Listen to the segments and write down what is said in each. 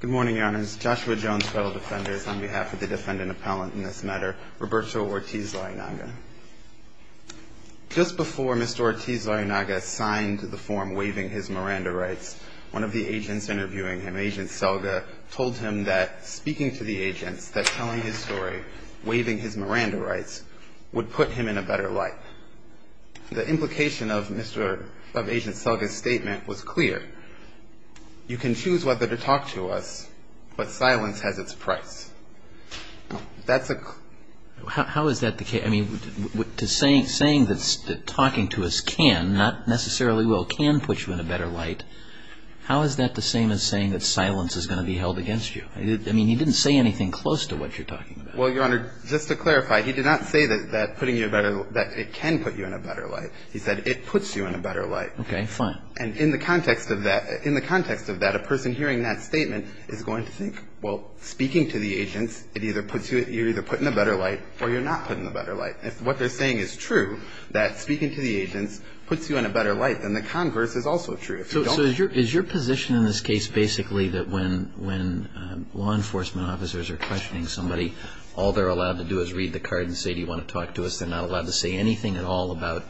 Good morning, your honors. Joshua Jones, fellow defenders, on behalf of the defendant appellant in this matter, Roberto Ortiz-Lareynaga. Just before Mr. Ortiz-Lareynaga signed the form waiving his Miranda rights, one of the agents interviewing him, Agent Selga, told him that speaking to the agents, that telling his story, waiving his Miranda rights, would put him in a better light. The implication of Agent Selga's statement was clear. You can choose whether to talk to us, but silence has its price. How is that the case? I mean, saying that talking to us can, not necessarily will, can put you in a better light, how is that the same as saying that silence is going to be held against you? I mean, he didn't say anything close to what you're talking about. Well, your honor, just to clarify, he did not say that putting you in a better, that it can put you in a better light. He said it puts you in a better light. Okay, fine. And in the context of that, in the context of that, a person hearing that statement is going to think, well, speaking to the agents, it either puts you, you're either put in a better light or you're not put in a better light. If what they're saying is true, that speaking to the agents puts you in a better light, then the converse is also true. So is your position in this case basically that when law enforcement officers are questioning somebody, all they're allowed to do is read the card and say, do you want to talk to us? They're not allowed to say anything at all about,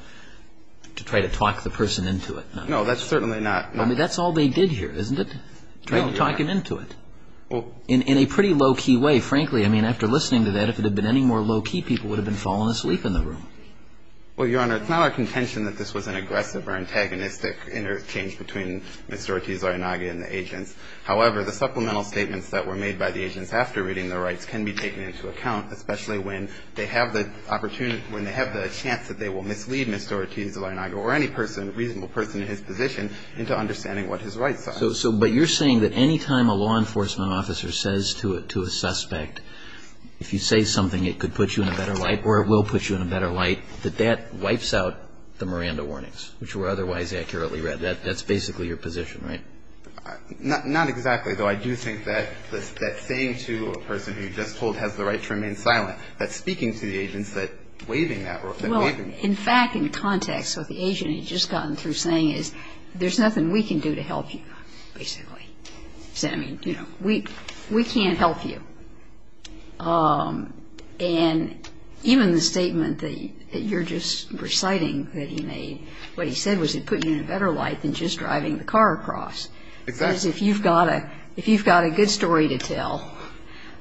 to try to talk the person into it? No, that's certainly not. I mean, that's all they did here, isn't it? No, your honor. Trying to talk him into it. In a pretty low-key way, frankly, I mean, after listening to that, if it had been any more low-key, people would have been falling asleep in the room. Well, your honor, it's not our contention that this was an aggressive or antagonistic interchange between Mr. Ortiz-Laranaga and the agents. However, the supplemental statements that were made by the agents after reading the rights can be taken into account, especially when they have the opportunity, when they have the chance that they will mislead Mr. Ortiz-Laranaga or any person, reasonable person in his position, into understanding what his rights are. So, but you're saying that any time a law enforcement officer says to a suspect, if you say something, it could put you in a better light or it will put you in a better light, that that wipes out the Miranda warnings, which were otherwise accurately read. That's basically your position, right? Not exactly, though. I do think that saying to a person who you just told has the right to remain silent, that speaking to the agents, that waving that rope, that waving rope. Well, in fact, in context, what the agent had just gotten through saying is, there's nothing we can do to help you, basically. I mean, you know, we can't help you. And even the statement that you're just reciting that he made, what he said was it put you in a better light than just driving the car across. Exactly. Because if you've got a good story to tell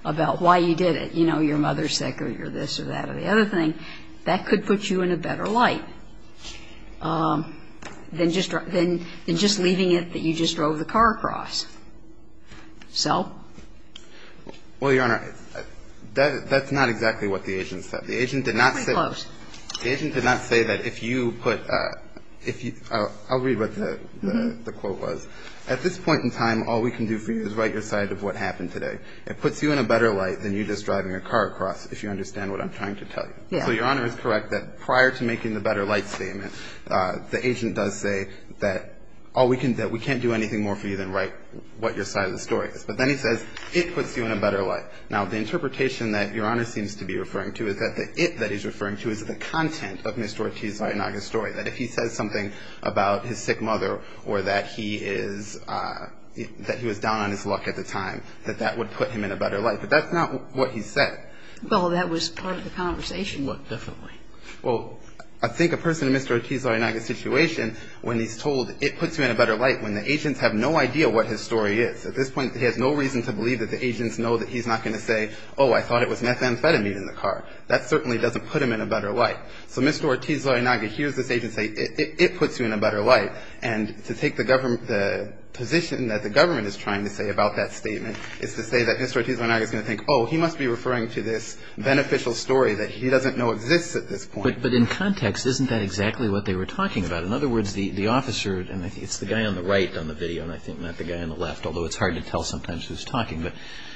about why you did it, you know, your mother's sick or this or that or the other thing, that could put you in a better light than just leaving it So? Well, Your Honor, that's not exactly what the agent said. The agent did not say that if you put – I'll read what the quote was. At this point in time, all we can do for you is write your side of what happened today. It puts you in a better light than you just driving your car across, if you understand what I'm trying to tell you. So Your Honor is correct that prior to making the better light statement, the agent does say that we can't do anything more for you than write what your side of the story is. But then he says it puts you in a better light. Now, the interpretation that Your Honor seems to be referring to is that the it that he's referring to is the content of Mr. Ortiz-Vallenaga's story, that if he says something about his sick mother or that he was down on his luck at the time, that that would put him in a better light. But that's not what he said. Well, that was part of the conversation. What definitely? Well, I think a person in Mr. Ortiz-Vallenaga's situation, when he's told it puts you in a better light, when the agents have no idea what his story is, at this point, he has no reason to believe that the agents know that he's not going to say, oh, I thought it was methamphetamine in the car. That certainly doesn't put him in a better light. So Mr. Ortiz-Vallenaga hears this agent say it puts you in a better light. And to take the position that the government is trying to say about that statement is to say that Mr. Ortiz-Vallenaga is going to think, oh, he must be referring to this beneficial story that he doesn't know exists at this point. But in context, isn't that exactly what they were talking about? In other words, the officer, and it's the guy on the right on the video, and I think not the guy on the left, although it's hard to tell sometimes who's talking, but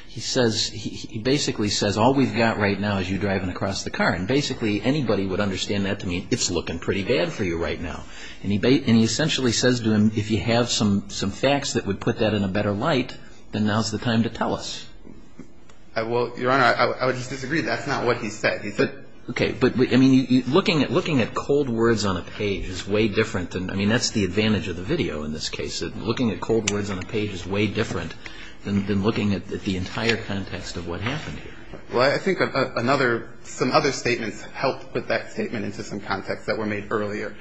he says, he basically says, all we've got right now is you driving across the car. And basically anybody would understand that to mean it's looking pretty bad for you right now. And he essentially says to him, if you have some facts that would put that in a better light, then now's the time to tell us. Well, Your Honor, I would just disagree. That's not what he said. Okay. But, I mean, looking at cold words on a page is way different. I mean, that's the advantage of the video in this case, that looking at cold words on a page is way different than looking at the entire context of what happened here. Well, I think some other statements helped put that statement into some context that were made earlier.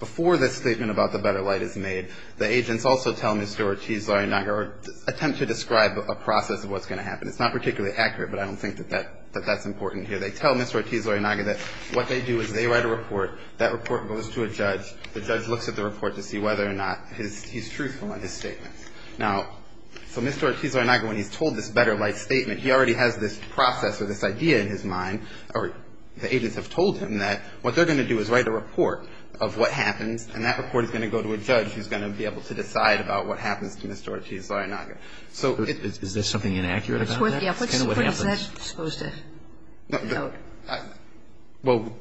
Before this statement about the better light is made, the agents also tell Mr. Ortiz-Laurinaga or attempt to describe a process of what's going to happen. It's not particularly accurate, but I don't think that that's important here. They tell Mr. Ortiz-Laurinaga that what they do is they write a report. That report goes to a judge. The judge looks at the report to see whether or not he's truthful in his statements. Now, so Mr. Ortiz-Laurinaga, when he's told this better light statement, he already has this process or this idea in his mind, or the agents have told him that what they're going to do is write a report of what happens, and that report is going to go to a judge who's going to be able to decide about what happens to Mr. Ortiz-Laurinaga. So it's – Is there something inaccurate about that? Yeah. What is that supposed to note? Well,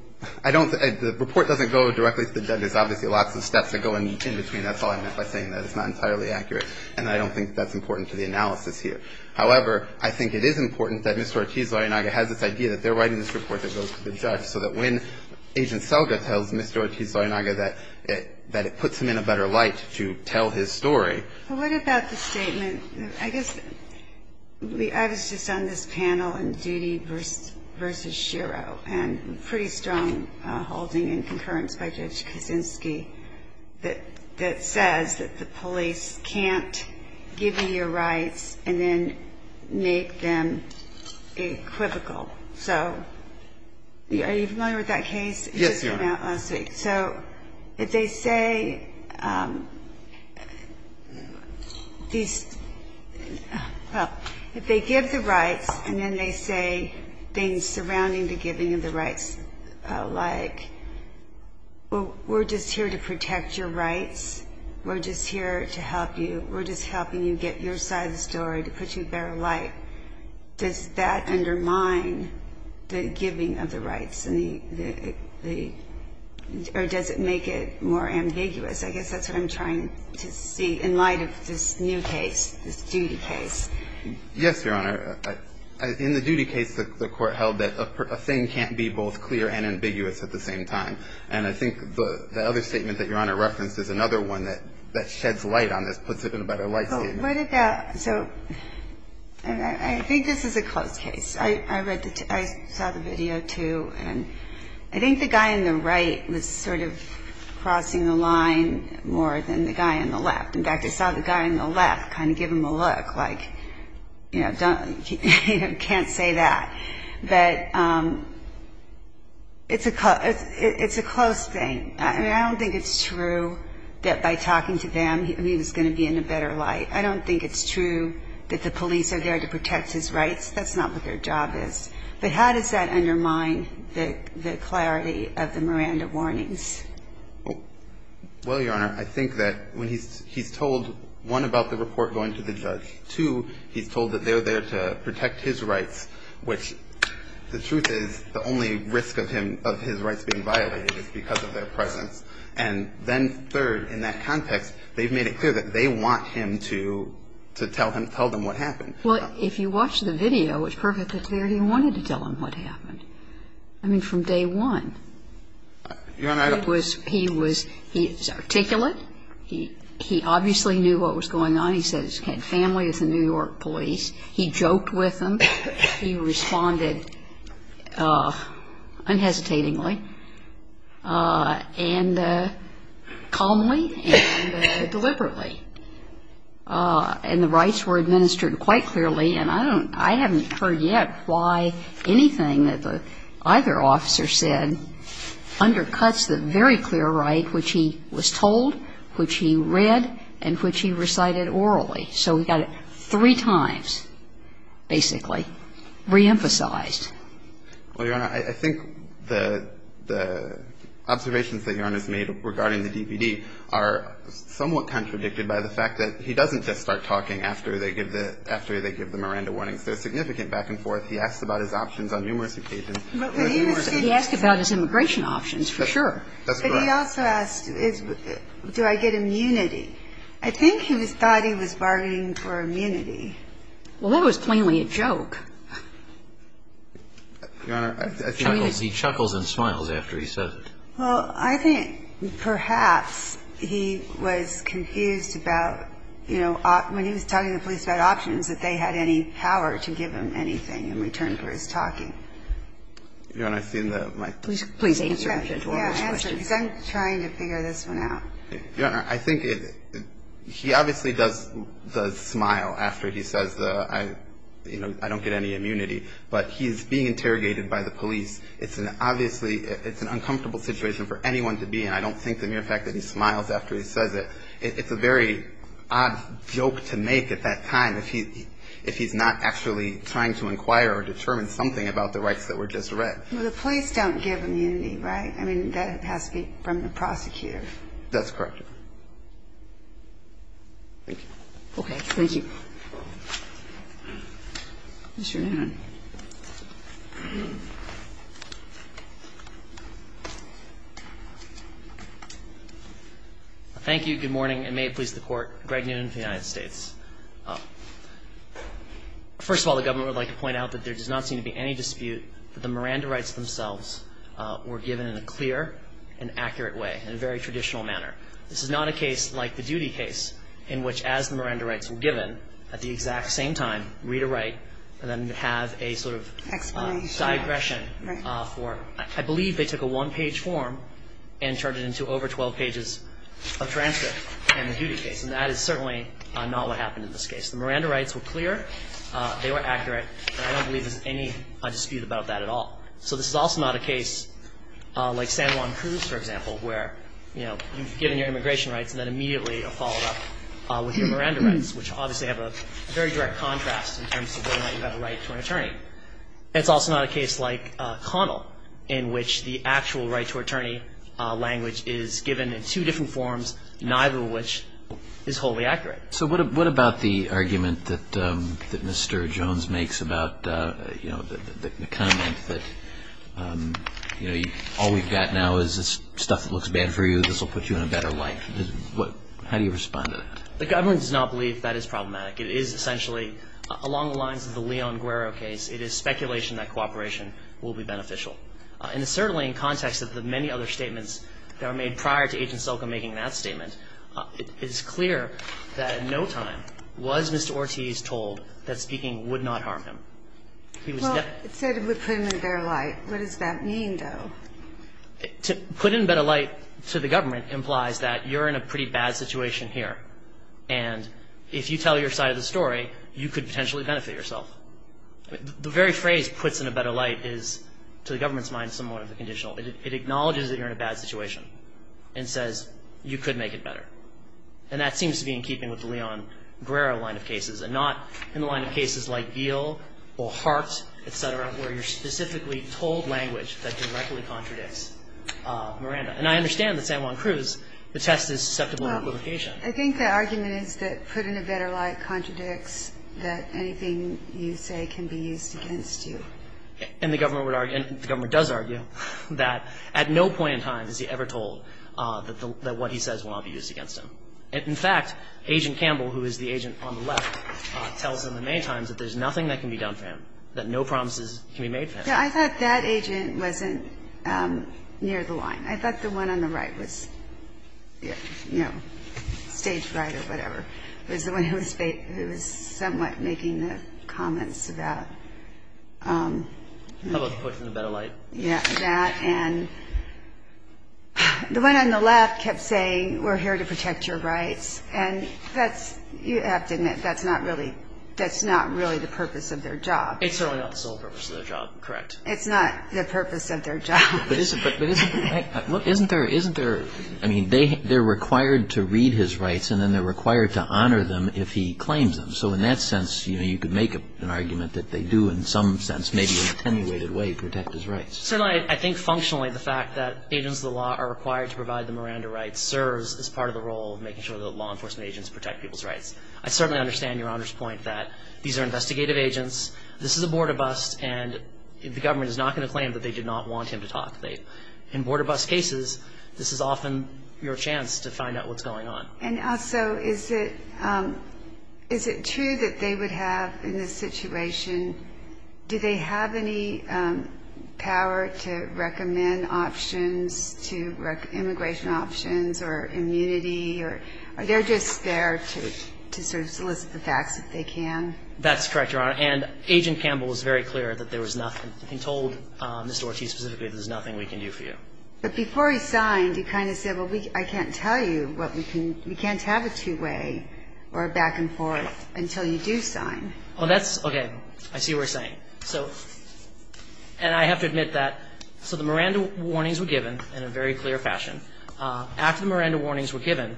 I don't – the report doesn't go directly to the judge. There's obviously lots of steps that go in between. That's all I meant by saying that it's not entirely accurate, and I don't think that's important to the analysis here. However, I think it is important that Mr. Ortiz-Laurinaga has this idea that they're writing this report that goes to the judge so that when Agent Selga tells Mr. Ortiz-Laurinaga that it puts him in a better light to tell his story. Well, what about the statement – I guess I was just on this panel in Doody v. Shiro, and pretty strong holding in concurrence by Judge Kaczynski, that says that the police can't give you your rights and then make them equivocal. So are you familiar with that case? Yes, Your Honor. It just came out last week. So if they say these – well, if they give the rights and then they say things surrounding the giving of the rights, like, well, we're just here to protect your rights, we're just here to help you, we're just helping you get your side of the story, to put you in a better light, does that undermine the giving of the rights and the – or does it make it more ambiguous? I guess that's what I'm trying to see in light of this new case, this Doody case. Yes, Your Honor. In the Doody case, the Court held that a thing can't be both clear and ambiguous at the same time. And I think the other statement that Your Honor referenced is another one that sheds light on this, puts it in a better light statement. So I think this is a close case. I saw the video, too, and I think the guy on the right was sort of crossing the line more than the guy on the left. In fact, I saw the guy on the left kind of give him a look, like, you know, can't say that. But it's a close thing. I don't think it's true that by talking to them he was going to be in a better light. I don't think it's true that the police are there to protect his rights. That's not what their job is. But how does that undermine the clarity of the Miranda warnings? Well, Your Honor, I think that when he's told, one, about the report going to the judge, two, he's told that they're there to protect his rights, which the truth is the only risk of him – of his rights being violated is because of their presence. And then, third, in that context, they've made it clear that they want him to tell them what happened. Well, if you watch the video, it's perfectly clear he wanted to tell them what happened. I mean, from day one. Your Honor, I don't – He was – he was – he was articulate. He obviously knew what was going on. He said he had family at the New York police. He joked with them. He responded unhesitatingly. And calmly and deliberately. And the rights were administered quite clearly. And I don't – I haven't heard yet why anything that either officer said undercuts the very clear right which he was told, which he read, and which he recited orally. So he got it three times, basically, reemphasized. Well, Your Honor, I think the – the observations that Your Honor's made regarding the DVD are somewhat contradicted by the fact that he doesn't just start talking after they give the – after they give the Miranda warnings. They're significant back and forth. He asks about his options on numerous occasions. But when he was – he asked about his immigration options, for sure. That's correct. But he also asked, do I get immunity? I think he thought he was bargaining for immunity. Well, that was plainly a joke. Your Honor, I think – He chuckles and smiles after he says it. Well, I think perhaps he was confused about, you know, when he was talking to the police about options, that they had any power to give him anything in return for his talking. Your Honor, I think that my – Please answer. Yeah, answer. Because I'm trying to figure this one out. Your Honor, I think he obviously does – does smile after he says, you know, I don't get any immunity. But he's being interrogated by the police. It's an – obviously, it's an uncomfortable situation for anyone to be in. I don't think the mere fact that he smiles after he says it, it's a very odd joke to make at that time if he – if he's not actually trying to inquire or determine something about the rights that were just read. Well, the police don't give immunity, right? I mean, that has to be from the prosecutor. That's correct. Thank you. Okay. Thank you. Mr. Newman. Thank you. Good morning, and may it please the Court. Greg Newman of the United States. First of all, the government would like to point out that there does not seem to be any dispute that the Miranda rights themselves were given in a clear and accurate way, in a very traditional manner. This is not a case like the Duty case in which, as the Miranda rights were given, at the exact same time, read or write, and then have a sort of digression for – I believe they took a one-page form and turned it into over 12 pages of transcript in the Duty case, and that is certainly not what happened in this case. The Miranda rights were clear, they were accurate, and I don't believe there's any dispute about that at all. So this is also not a case like San Juan Cruz, for example, where you've given your immigration rights and then immediately followed up with your Miranda rights, which obviously have a very direct contrast in terms of whether or not you have a right to an attorney. It's also not a case like Connell, in which the actual right to an attorney language is given in two different forms, neither of which is wholly accurate. So what about the argument that Mr. Jones makes about, you know, the comment that, you know, all we've got now is this stuff that looks bad for you, this will put you in a better life. How do you respond to that? The government does not believe that is problematic. It is essentially, along the lines of the Leon Guerrero case, it is speculation that cooperation will be beneficial. And it's certainly in context of the many other statements that were made prior to At no time was Mr. Ortiz told that speaking would not harm him. Well, it said it would put him in a better light. What does that mean, though? To put in a better light to the government implies that you're in a pretty bad situation here, and if you tell your side of the story, you could potentially benefit yourself. The very phrase puts in a better light is, to the government's mind, somewhat of a conditional. It acknowledges that you're in a bad situation and says you could make it better. And that seems to be in keeping with the Leon Guerrero line of cases and not in the line of cases like Geale or Hart, et cetera, where you're specifically told language that directly contradicts Miranda. And I understand that San Juan Cruz, the test is susceptible to equivocation. I think the argument is that put in a better light contradicts that anything you say can be used against you. And the government would argue, and the government does argue, that at no point in time is he ever told that what he says will not be used against him. In fact, Agent Campbell, who is the agent on the left, tells them many times that there's nothing that can be done for him, that no promises can be made for him. I thought that agent wasn't near the line. I thought the one on the right was, you know, stage right or whatever. It was the one who was somewhat making the comments about. How about put in a better light? Yeah, that and the one on the left kept saying we're here to protect your rights. And that's, you have to admit, that's not really the purpose of their job. It's certainly not the sole purpose of their job, correct. It's not the purpose of their job. But isn't there, I mean, they're required to read his rights and then they're required to honor them if he claims them. So in that sense, you know, you could make an argument that they do in some sense, maybe in an attenuated way, protect his rights. Certainly, I think functionally the fact that agents of the law are required to provide the Miranda rights serves as part of the role of making sure that law enforcement agents protect people's rights. I certainly understand Your Honor's point that these are investigative agents. This is a border bust and the government is not going to claim that they did not want him to talk. In border bust cases, this is often your chance to find out what's going on. And also, is it true that they would have in this situation, do they have any power to recommend options to immigration options or immunity? Are they just there to sort of solicit the facts if they can? That's correct, Your Honor. And Agent Campbell was very clear that there was nothing. He told Mr. Ortiz specifically there's nothing we can do for you. But before he signed, he kind of said, well, I can't tell you what we can, we can't have a two-way or a back-and-forth until you do sign. Well, that's, okay, I see what you're saying. So, and I have to admit that, so the Miranda warnings were given in a very clear fashion. After the Miranda warnings were given,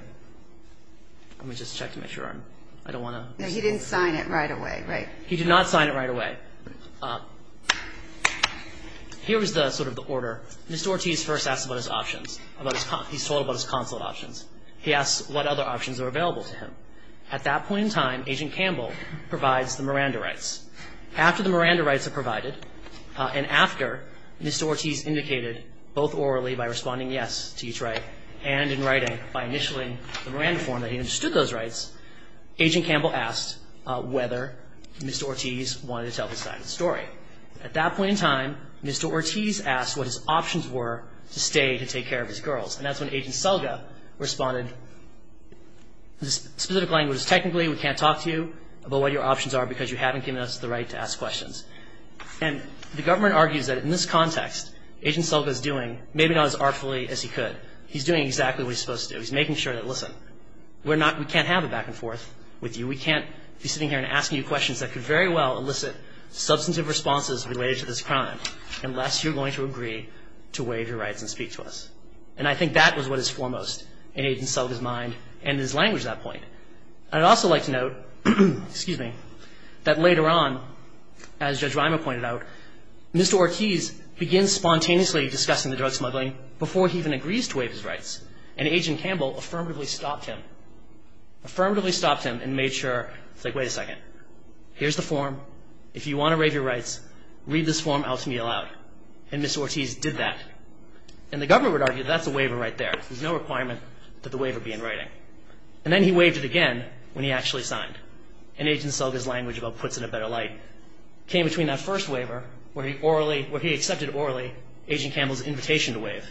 let me just check to make sure I'm, I don't want to. No, he didn't sign it right away, right? He did not sign it right away. All right. Here is the sort of the order. Mr. Ortiz first asked about his options, about his, he's told about his consulate options. He asks what other options are available to him. At that point in time, Agent Campbell provides the Miranda rights. After the Miranda rights are provided, and after Mr. Ortiz indicated both orally by responding yes to each right, and in writing by initialing the Miranda form that he understood those rights, Agent Campbell asked whether Mr. Ortiz wanted to tell his side of the story. At that point in time, Mr. Ortiz asked what his options were to stay to take care of his girls. And that's when Agent Selga responded, this specific language is technically we can't talk to you about what your options are because you haven't given us the right to ask questions. And the government argues that in this context, Agent Selga is doing maybe not as artfully as he could. He's doing exactly what he's supposed to do. He's making sure that, listen, we're not, we can't have a back and forth with you. We can't be sitting here and asking you questions that could very well elicit substantive responses related to this crime unless you're going to agree to waive your rights and speak to us. And I think that was what is foremost in Agent Selga's mind and his language at that point. I'd also like to note, excuse me, that later on, as Judge Weimer pointed out, Mr. Ortiz begins spontaneously discussing the drug smuggling before he even agrees to waive his rights. And Agent Campbell affirmatively stopped him. Affirmatively stopped him and made sure, like, wait a second. Here's the form. If you want to waive your rights, read this form out to me aloud. And Mr. Ortiz did that. And the government would argue that's a waiver right there. There's no requirement that the waiver be in writing. And then he waived it again when he actually signed. And Agent Selga's language about puts in a better light came between that first waiver where he accepted orally Agent Campbell's invitation to waive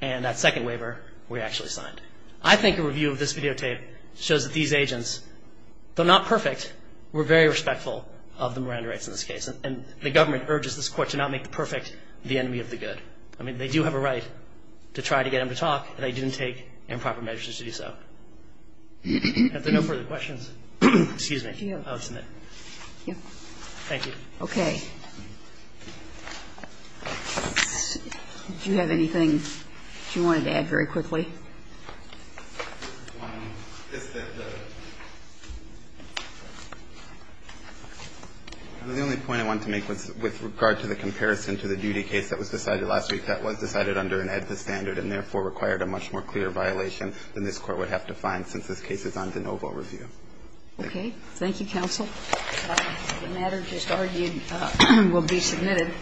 and that second waiver where he actually signed. I think a review of this videotape shows that these agents, though not perfect, were very respectful of the Miranda rights in this case. And the government urges this Court to not make the perfect the enemy of the good. I mean, they do have a right to try to get him to talk, and they didn't take improper measures to do so. If there are no further questions, excuse me, I'll submit. Thank you. Okay. Do you have anything you wanted to add very quickly? The only point I wanted to make was with regard to the comparison to the duty case that was decided last week that was decided under an EDPA standard and therefore required a much more clear violation than this Court would have to find since this case is on de novo review. Okay. Thank you, counsel. The matter just argued will be submitted.